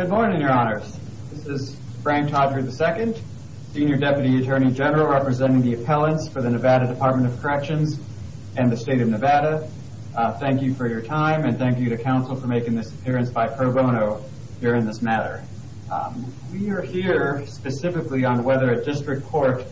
Good morning, your honors. This is Frank Todry II, Senior Deputy Attorney General representing the appellants for the Nevada Department of Corrections and the state of Nevada. Thank you for your time and thank you to counsel for making this appearance by pro bono here in this matter. We are here specifically on whether a district court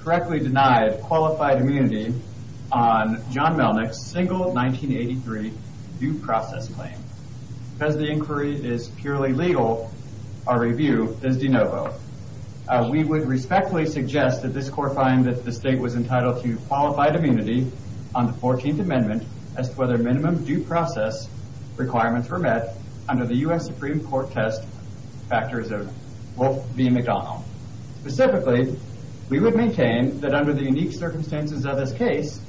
correctly denied qualified immunity on John our review is de novo. We would respectfully suggest that this court find that the state was entitled to qualified immunity on the 14th amendment as to whether minimum due process requirements were met under the U.S. Supreme Court test factors of Wolfe v. McDonald. Specifically, we would maintain that under the unique circumstances of this case,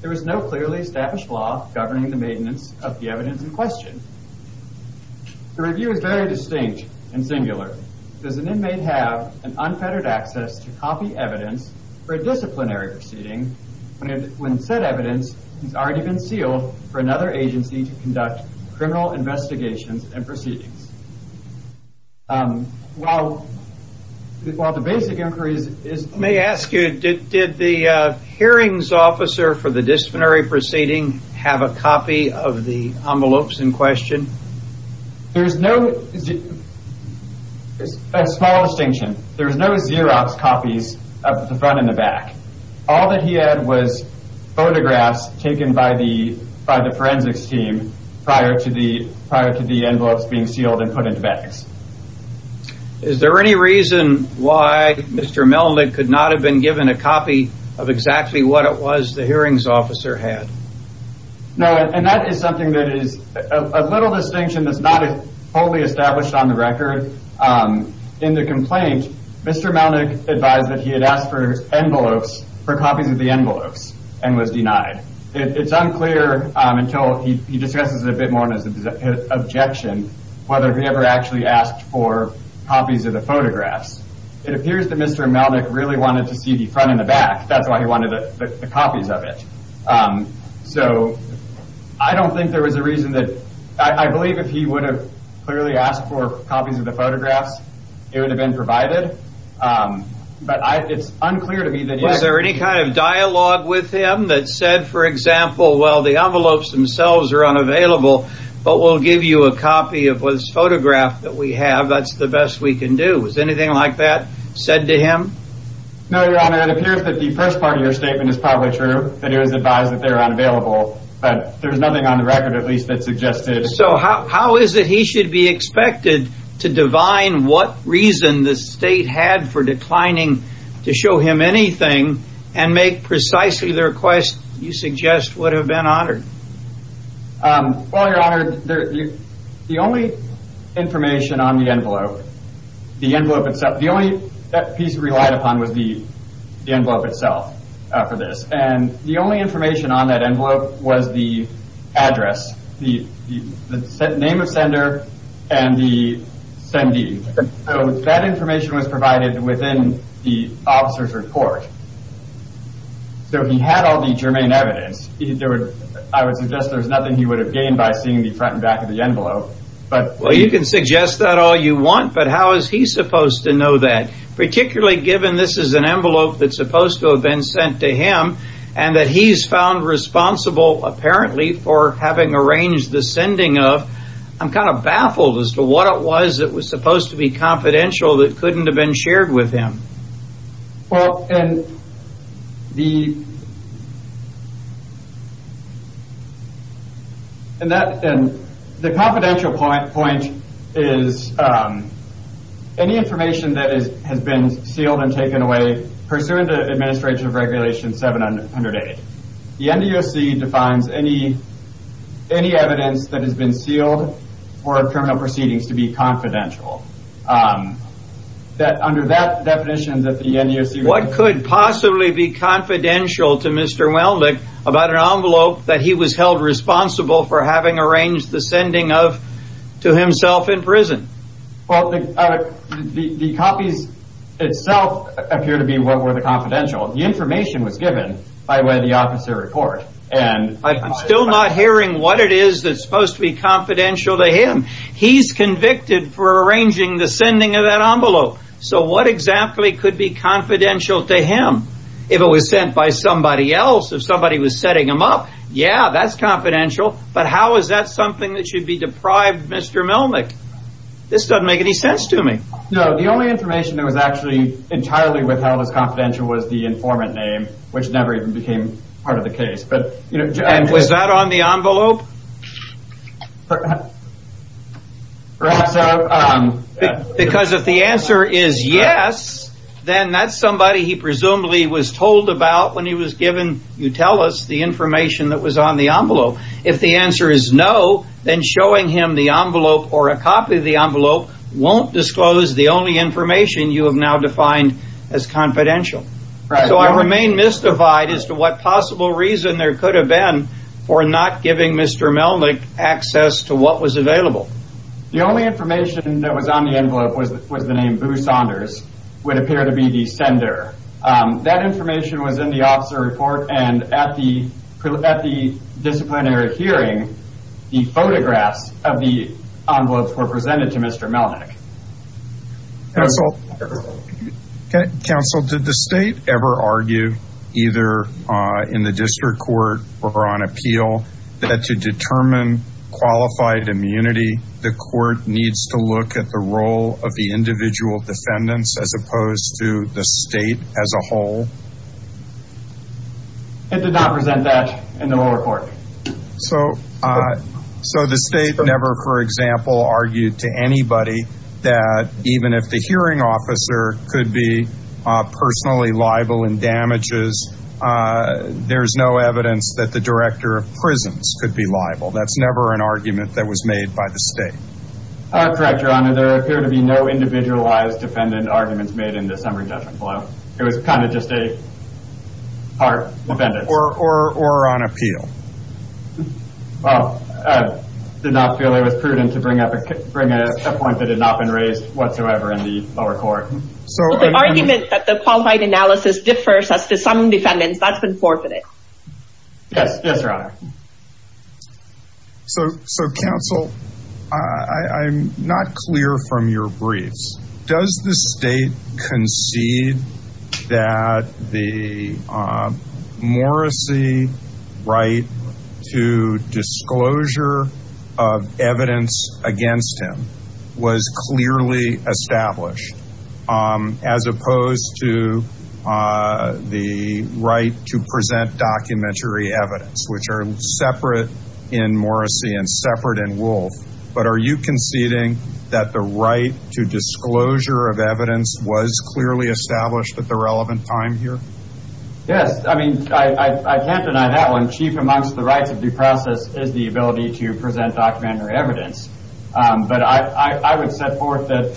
there is no clearly established law governing the maintenance of the evidence in question. The review is very distinct and singular. Does an inmate have unfettered access to copy evidence for a disciplinary proceeding when said evidence has already been sealed for another agency to conduct criminal investigations and proceedings? While the basic inquiry is... Did the hearings officer for the disciplinary proceeding have a copy of the envelopes in question? There is no, a small distinction, there is no Xerox copies of the front and the back. All that he had was photographs taken by the forensics team prior to the envelopes being exactly what it was the hearings officer had. That is something that is a little distinction that is not fully established on the record. In the complaint, Mr. Malnick advised that he had asked for envelopes, for copies of the envelopes and was denied. It is unclear until he discusses it a bit more in his objection whether he ever actually asked for copies of the front and the back. That is why he wanted the copies of it. I believe if he would have clearly asked for copies of the photographs, it would have been provided. Is there any kind of dialogue with him that said, for example, the envelopes themselves are unavailable, but we will give you a copy of this photograph that we have, that is the best we can do. Is there anything like that said to him? No, your honor. It appears that the first part of your statement is probably true, that it was advised that they are unavailable, but there is nothing on the record at least that suggested. So how is it he should be expected to divine what reason the state had for declining to show him anything and make precisely the request you suggest would have been honored? Well, your honor, the only information on the envelope itself, the only piece relied upon was the envelope itself for this. The only information on that envelope was the address, the name of sender, and the sendee. That information was provided within the officer's report. So he had all the germane evidence. I would suggest there is nothing he would have gained by seeing the front and back of the envelope. Well, you can that. Particularly given this is an envelope that is supposed to have been sent to him, and that he is found responsible apparently for having arranged the sending of, I am kind of baffled as to what it was that was supposed to be confidential that couldn't have been shared with has been sealed and taken away pursuant to Administrative Regulation 708. The NDOC defines any evidence that has been sealed for criminal proceedings to be confidential. What could possibly be confidential to Mr. Welnick about an envelope that he was held Well, the copies itself appear to be what were the confidential. The information was given by way of the officer's report. I am still not hearing what it is that is supposed to be confidential to him. He is convicted for arranging the sending of that envelope. So what exactly could be confidential to him? If it was sent by somebody else, if somebody was setting him up, yeah, that is confidential, but how is that something that should be deprived of Mr. Welnick? This doesn't make any sense to me. No, the only information that was actually entirely withheld as confidential was the informant name, which never even became part of the case. And was that on the envelope? Because if the answer is yes, then that is somebody he presumably was told about when he was given, you tell us, the information that was on the envelope. If the answer is no, then showing him the envelope or a copy of the envelope won't disclose the only information you have now defined as confidential. So I remain mystified as to what possible reason there could have been for not giving Mr. Welnick access to what was available. The only information that was on the envelope was the name Boo Saunders, would appear to be the sender. That information was in the officer report and at the disciplinary hearing, the photographs of the envelopes were presented to Mr. Melnick. Counsel, did the state ever argue either in the district court or on appeal that to determine qualified immunity, the court needs to look at the role of the individual defendants as opposed to the state as a whole? It did not present that in the lower court. So the state never, for example, argued to anybody that even if the hearing officer could be personally liable in damages, there's no evidence that the director of prisons could be liable. That's never an argument that was made by the state. Correct, Your Honor. There appear to be no individualized defendant arguments made in the summary judgment below. It was kind of just a part defendant. Or on appeal. Well, I did not feel it was prudent to bring up a point that had not been raised whatsoever in the lower court. The argument that the qualified analysis differs as to some defendants, but that's not what happened. So, counsel, I'm not clear from your briefs. Does the state concede that the Morrisey right to disclosure of evidence against him was clearly established as opposed to the right to present documentary evidence, which are separate in Morrisey and separate in Wolfe? But are you conceding that the right to disclosure of evidence was clearly established at the relevant time here? Yes. I mean, I can't deny that one. Chief amongst the rights of due process is the ability to present documentary evidence. But I would set forth that.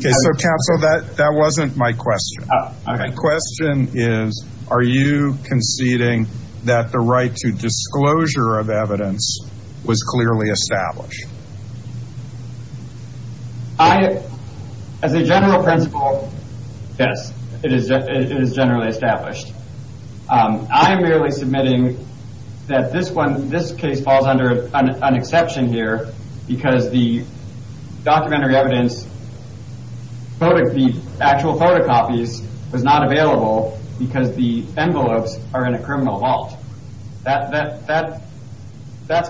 So, counsel, that wasn't my question. My question is, are you conceding that the right to disclosure of evidence was clearly established? As a general principle, yes, it is generally established. I'm merely submitting that this case falls under an exception here because the documentary evidence, the actual photocopies was not available because the envelopes are in a criminal vault. That's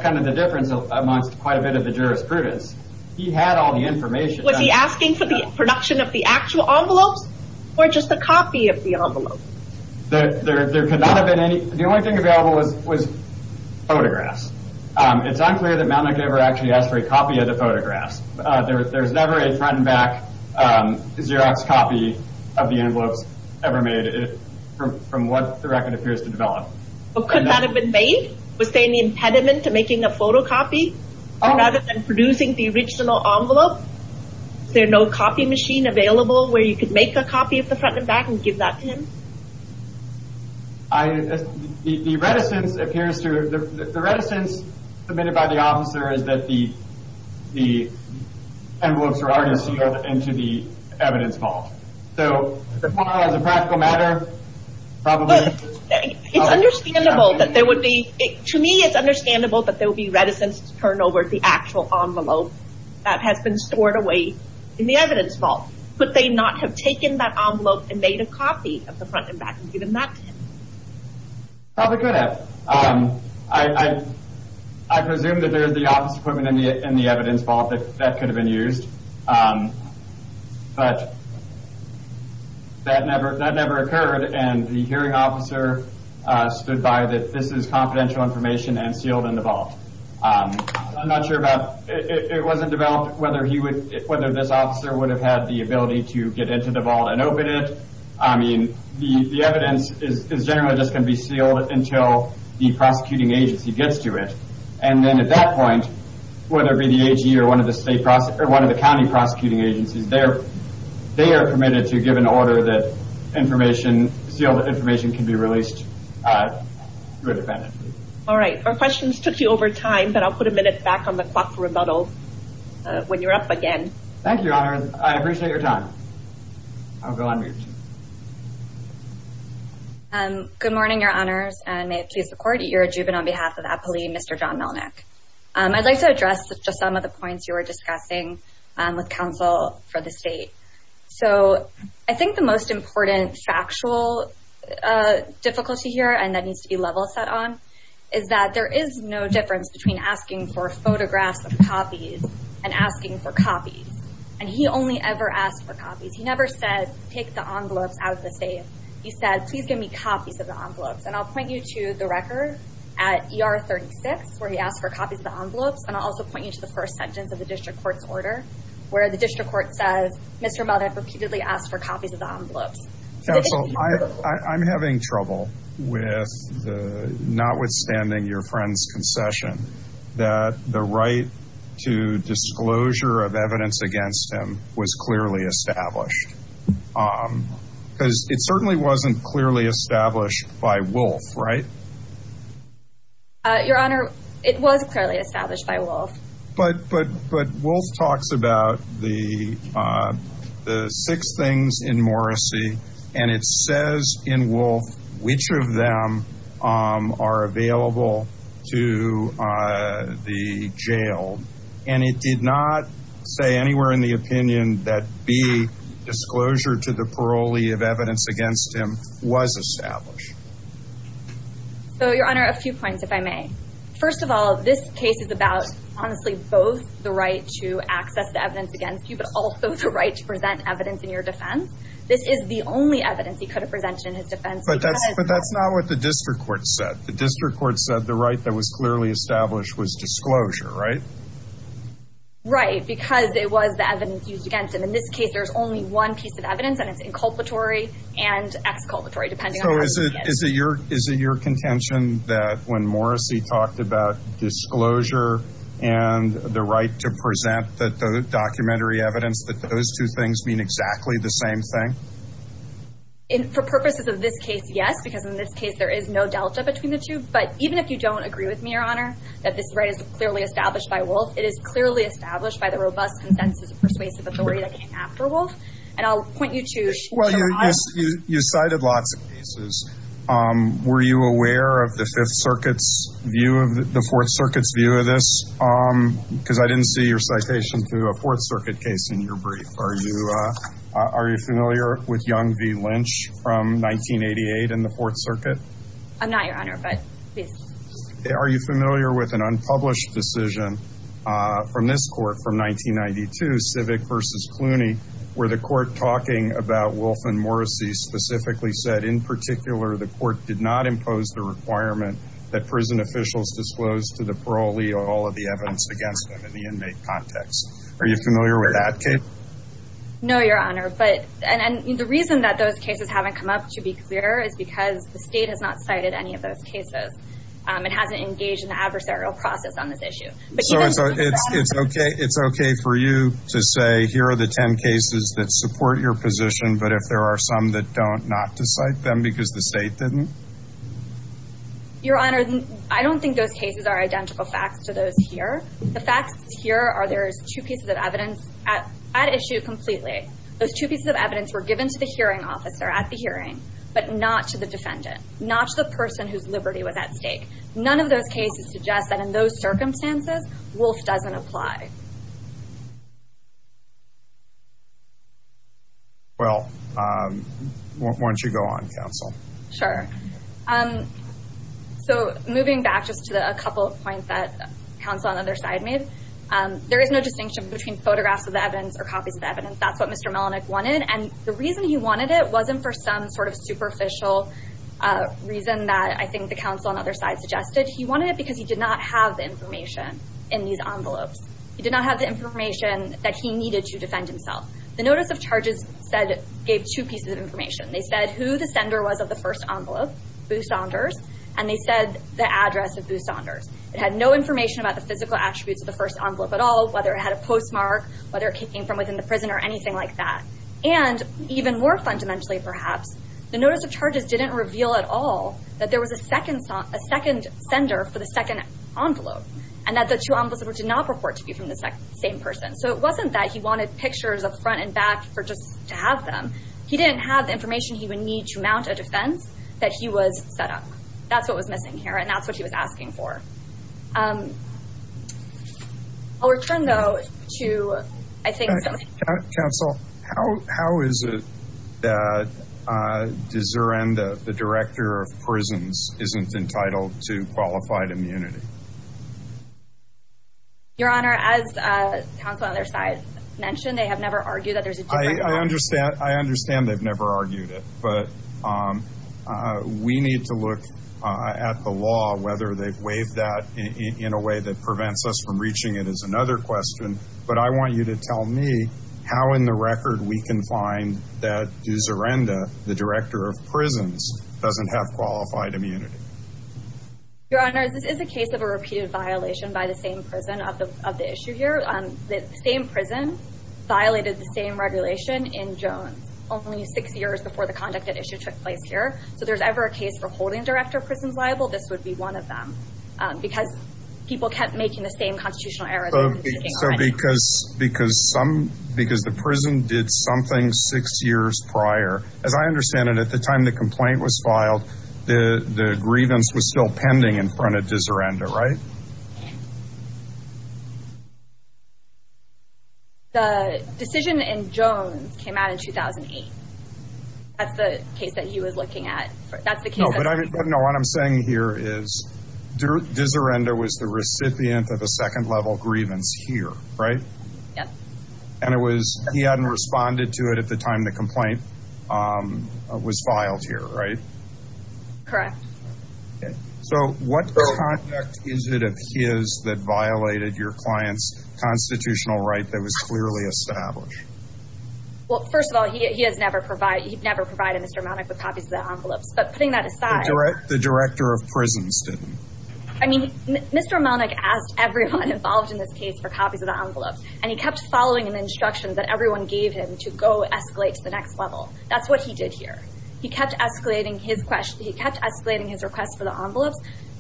kind of the difference amongst quite a bit of the jurisprudence. He had all the information. Was he asking for the production of the actual envelopes or just a copy of the envelopes? There could not have been any. The only thing available was photographs. It's unclear that Malnick ever actually asked for a copy of the photographs. There's never a front and back Xerox copy of the envelopes ever made from what the record appears to develop. But could that have been made? Was there any impediment to making a photocopy rather than producing the original envelope? Is there no copy machine available where you could make a copy of the front and back and give that to him? The reticence submitted by the officer is that the envelopes are already sealed into the evidence vault. So, as far as a practical matter, probably... To me, it's understandable that there would be reticence to turn over the actual envelope that has been stored away in the evidence vault. Could they not have taken that envelope and made a copy of the front and back and given that to him? Probably could have. I presume that there is the office equipment in the evidence vault that could have been used. But that never occurred and the hearing officer stood by that this is confidential information and sealed in the vault. I'm not sure about... It wasn't developed whether this officer would have had the ability to get into the vault and open it. The evidence is generally just going to be sealed until the prosecuting agency gets to it. And then at that point, whether it be the AG or one of the county prosecuting agencies, they are permitted to give an order that sealed information can be back on the clock remodeled when you're up again. Thank you, Your Honor. I appreciate your time. I'll go on mute. Good morning, Your Honors. And may it please the court, you're a juvenile on behalf of Apolli, Mr. John Melnick. I'd like to address just some of the points you were discussing with counsel for the state. So, I think the most important factual difficulty here, and that needs to be level set on, is that there is no difference between asking for photographs of copies and asking for copies. And he only ever asked for copies. He never said, take the envelopes out of the safe. He said, please give me copies of the envelopes. And I'll point you to the record at ER 36, where he asked for copies of the envelopes. And I'll also point you to the first sentence of the district court's order, where the district court says, Mr. Melnick repeatedly asked for copies of the envelopes. Counsel, I'm having trouble with, notwithstanding your friend's concession, that the right to disclosure of evidence against him was clearly established. Because it certainly wasn't clearly established by Wolf, right? Your Honor, it was clearly established by Wolf. But Wolf talks about the six things in Morrisey, and it says in Wolf which of them are available to the jailed. And it did not say anywhere in the opinion that B, disclosure to the parolee of evidence against him, was established. So, Your Honor, a few points, if I may. First of all, this case is about, honestly, both the right to access the evidence against you, but also the right to present evidence in your defense. This is the only evidence he could have presented in his defense. But that's not what the district court said. The district court said the right that was clearly established was disclosure, right? Right. Because it was the evidence used against him. In this case, there's only one piece of evidence, and it's inculpatory and exculpatory, depending on how you look at it. So, is it your contention that when Morrisey talked about disclosure and the right to present the documentary evidence, that those two things mean exactly the same thing? For purposes of this case, yes. Because in this case, there is no delta between the two. But even if you don't agree with me, Your Honor, that this right is clearly established by Wolf, it is clearly established by the robust consensus of persuasive jury that came after Wolf. And I'll point you to... You cited lots of cases. Were you aware of the Fourth Circuit's view of this? Because I didn't see your citation to a Fourth Circuit case in your brief. Are you familiar with Young v. Lynch from 1988 in the Fourth Circuit? I'm not, Your Honor, but... Are you familiar with an unpublished decision from this court from 1992, Civic v. Clooney, where the court talking about Wolf and Morrisey specifically said, in particular, the court did not impose the requirement that prison officials disclose to the parolee all of the evidence against them in the inmate context? Are you familiar with that case? No, Your Honor. And the reason that those cases haven't come up, to be clear, is because the state has not cited any of those cases. It hasn't engaged in the process. So it's okay for you to say, here are the 10 cases that support your position, but if there are some that don't, not to cite them because the state didn't? Your Honor, I don't think those cases are identical facts to those here. The facts here are there's two pieces of evidence at issue completely. Those two pieces of evidence were given to the hearing officer at the hearing, but not to the defendant, not to the person whose circumstances Wolf doesn't apply. Well, why don't you go on, counsel? Sure. So moving back just to a couple of points that counsel on the other side made, there is no distinction between photographs of the evidence or copies of the evidence. That's what Mr. Melenik wanted. And the reason he wanted it wasn't for some sort of superficial reason that I think the counsel on the other side suggested. He wanted it because he did not have the information in these envelopes. He did not have the information that he needed to defend himself. The notice of charges gave two pieces of information. They said who the sender was of the first envelope, Boo Saunders, and they said the address of Boo Saunders. It had no information about the physical attributes of the first envelope at all, whether it had a postmark, whether it came from within the prison or anything like that. And even more fundamentally perhaps, the notice of charges didn't reveal at all that there was a second sender for the second envelope, and that the two envelopes did not purport to be from the same person. So it wasn't that he wanted pictures up front and back for just to have them. He didn't have the information he would need to mount a defense that he was set up. That's what was missing here, and that's what he was asking for. I'll return, though, to I think... Counsel, how is it that De Zeranda, the director of prisons, isn't entitled to qualified immunity? Your Honor, as counsel on the other side mentioned, they have never argued that there's a... I understand they've never argued it, but we need to look at the law, whether they've waived that in a way that prevents us from reaching it, is another question. But I want you to tell me how in the record we can find that De Zeranda, the director of prisons, doesn't have qualified immunity. Your Honor, this is a case of a repeated violation by the same prison of the issue here. The same prison violated the same regulation in Jones only six years before the conduct at issue took place here. So if there's ever a case for holding director of prisons liable, this would be one of them, because people kept making the same constitutional errors. So because the prison did something six years prior, as I understand it, at the time the complaint was filed, the grievance was still pending in front of De Zeranda, right? The decision in Jones came out in 2008. That's the case that he was looking at. No, but what I'm saying here is De Zeranda was the recipient of a second-level grievance here, right? And he hadn't responded to it at the time the complaint was filed here, right? Correct. So what conduct is it of his that violated your client's constitutional right that was clearly established? Well, first of all, he has never provided Mr. Melnick with copies of the envelopes. But putting that aside... The director of prisons didn't. I mean, Mr. Melnick asked everyone involved in this case for copies of the envelopes, and he kept following an instruction that everyone gave him to go escalate to the next level. That's what he did here. He kept escalating his request for the envelopes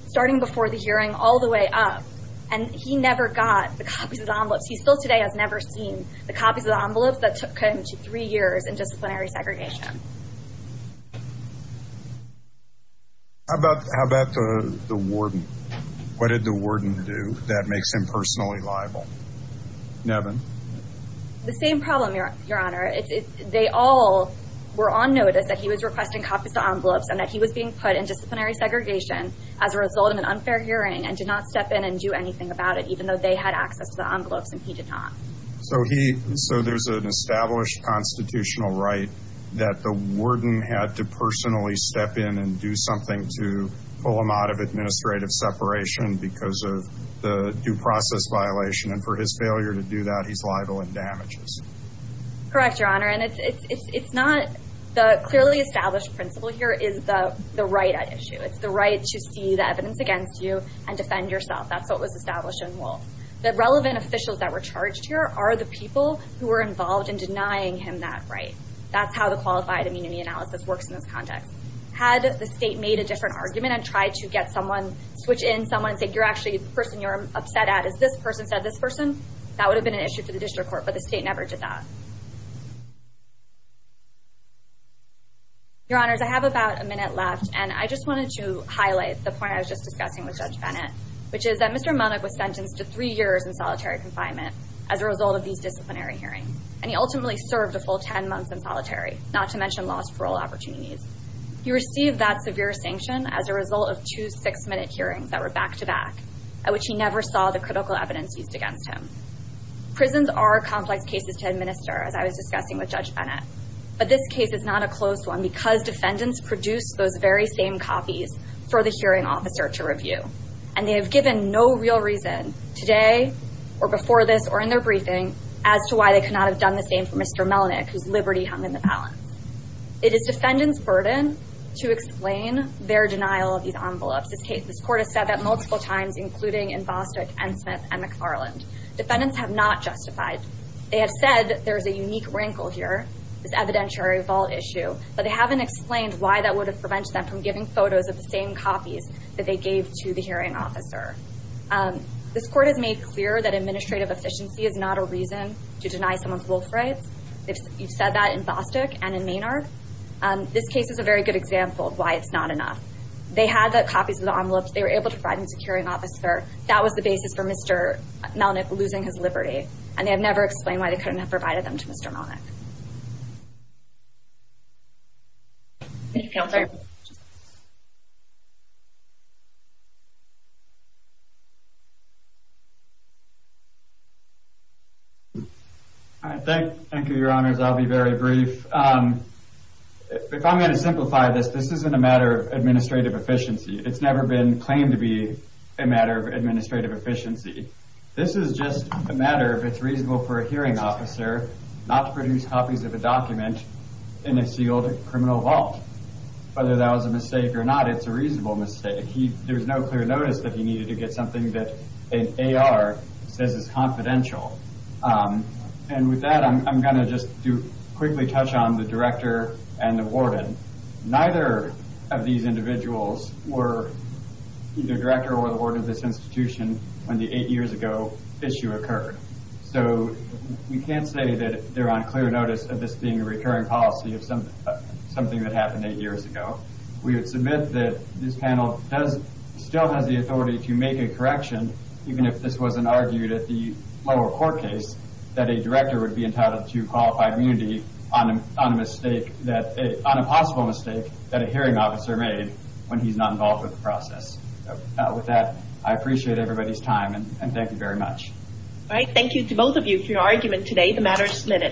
starting before the hearing all the way up, and he never got the copies of the envelopes. He still today has never seen the copies of the envelopes that took him to three years in disciplinary segregation. How about the warden? What did the warden do that makes him personally liable? Nevin? The same problem, Your Honor. They all were on notice that he was requesting copies of envelopes and that he was being put in disciplinary segregation as a result of an unfair hearing and did not step in and do anything about it, even though they had access to the envelopes and he did not. So there's an established constitutional right that the warden had to personally step in and do something to pull him out of administrative separation because of the due process violation. And for his failure to do that, he's liable in damages. Correct, Your Honor. And it's not... The clearly established principle here is the right at issue. It's the right to see the evidence against you and defend yourself. That's what was established The relevant officials that were charged here are the people who were involved in denying him that right. That's how the qualified immunity analysis works in this context. Had the state made a different argument and tried to get someone, switch in someone and say, you're actually the person you're upset at is this person said this person, that would have been an issue to the district court, but the state never did that. Your Honors, I have about a minute left and I just wanted to highlight the point I was just discussing with Judge Bennett, which is that Mr. Bennett was sentenced to three years in solitary confinement as a result of these disciplinary hearings. And he ultimately served a full 10 months in solitary, not to mention lost parole opportunities. He received that severe sanction as a result of two six-minute hearings that were back-to-back, at which he never saw the critical evidence used against him. Prisons are complex cases to administer, as I was discussing with Judge Bennett. But this case is not a closed one because defendants produced those very same copies for the hearing officer to review. And they have given no real reason today, or before this, or in their briefing, as to why they could not have done the same for Mr. Melnyk, whose liberty hung in the balance. It is defendants' burden to explain their denial of these envelopes. This case, this court has said that multiple times, including in Bostock, N. Smith, and McFarland. Defendants have not justified. They have said there's a unique wrinkle here, this evidentiary vault issue, but they haven't explained why that would have copies that they gave to the hearing officer. This court has made clear that administrative efficiency is not a reason to deny someone's wolf rights. You've said that in Bostock and in Maynard. This case is a very good example of why it's not enough. They had the copies of the envelopes. They were able to provide them to the hearing officer. That was the basis for Mr. Melnyk losing his liberty. And they have never explained why they couldn't have provided them to Mr. Melnyk. All right. Thank you, your honors. I'll be very brief. If I'm going to simplify this, this isn't a matter of administrative efficiency. It's never been claimed to be a matter of administrative efficiency. This is just a matter of it's reasonable for a hearing officer not to produce copies of a It's a reasonable mistake. There's no clear notice that he needed to get something that an AR says is confidential. With that, I'm going to just quickly touch on the director and the warden. Neither of these individuals were either director or the warden of this institution when the eight years ago issue occurred. We can't say that they're on clear notice of this being a years ago. We would submit that this panel still has the authority to make a correction, even if this wasn't argued at the lower court case, that a director would be entitled to qualified immunity on a possible mistake that a hearing officer made when he's not involved with the process. With that, I appreciate everybody's time and thank you very much. All right. Thank you to both of you for your argument today. The matter is submitted.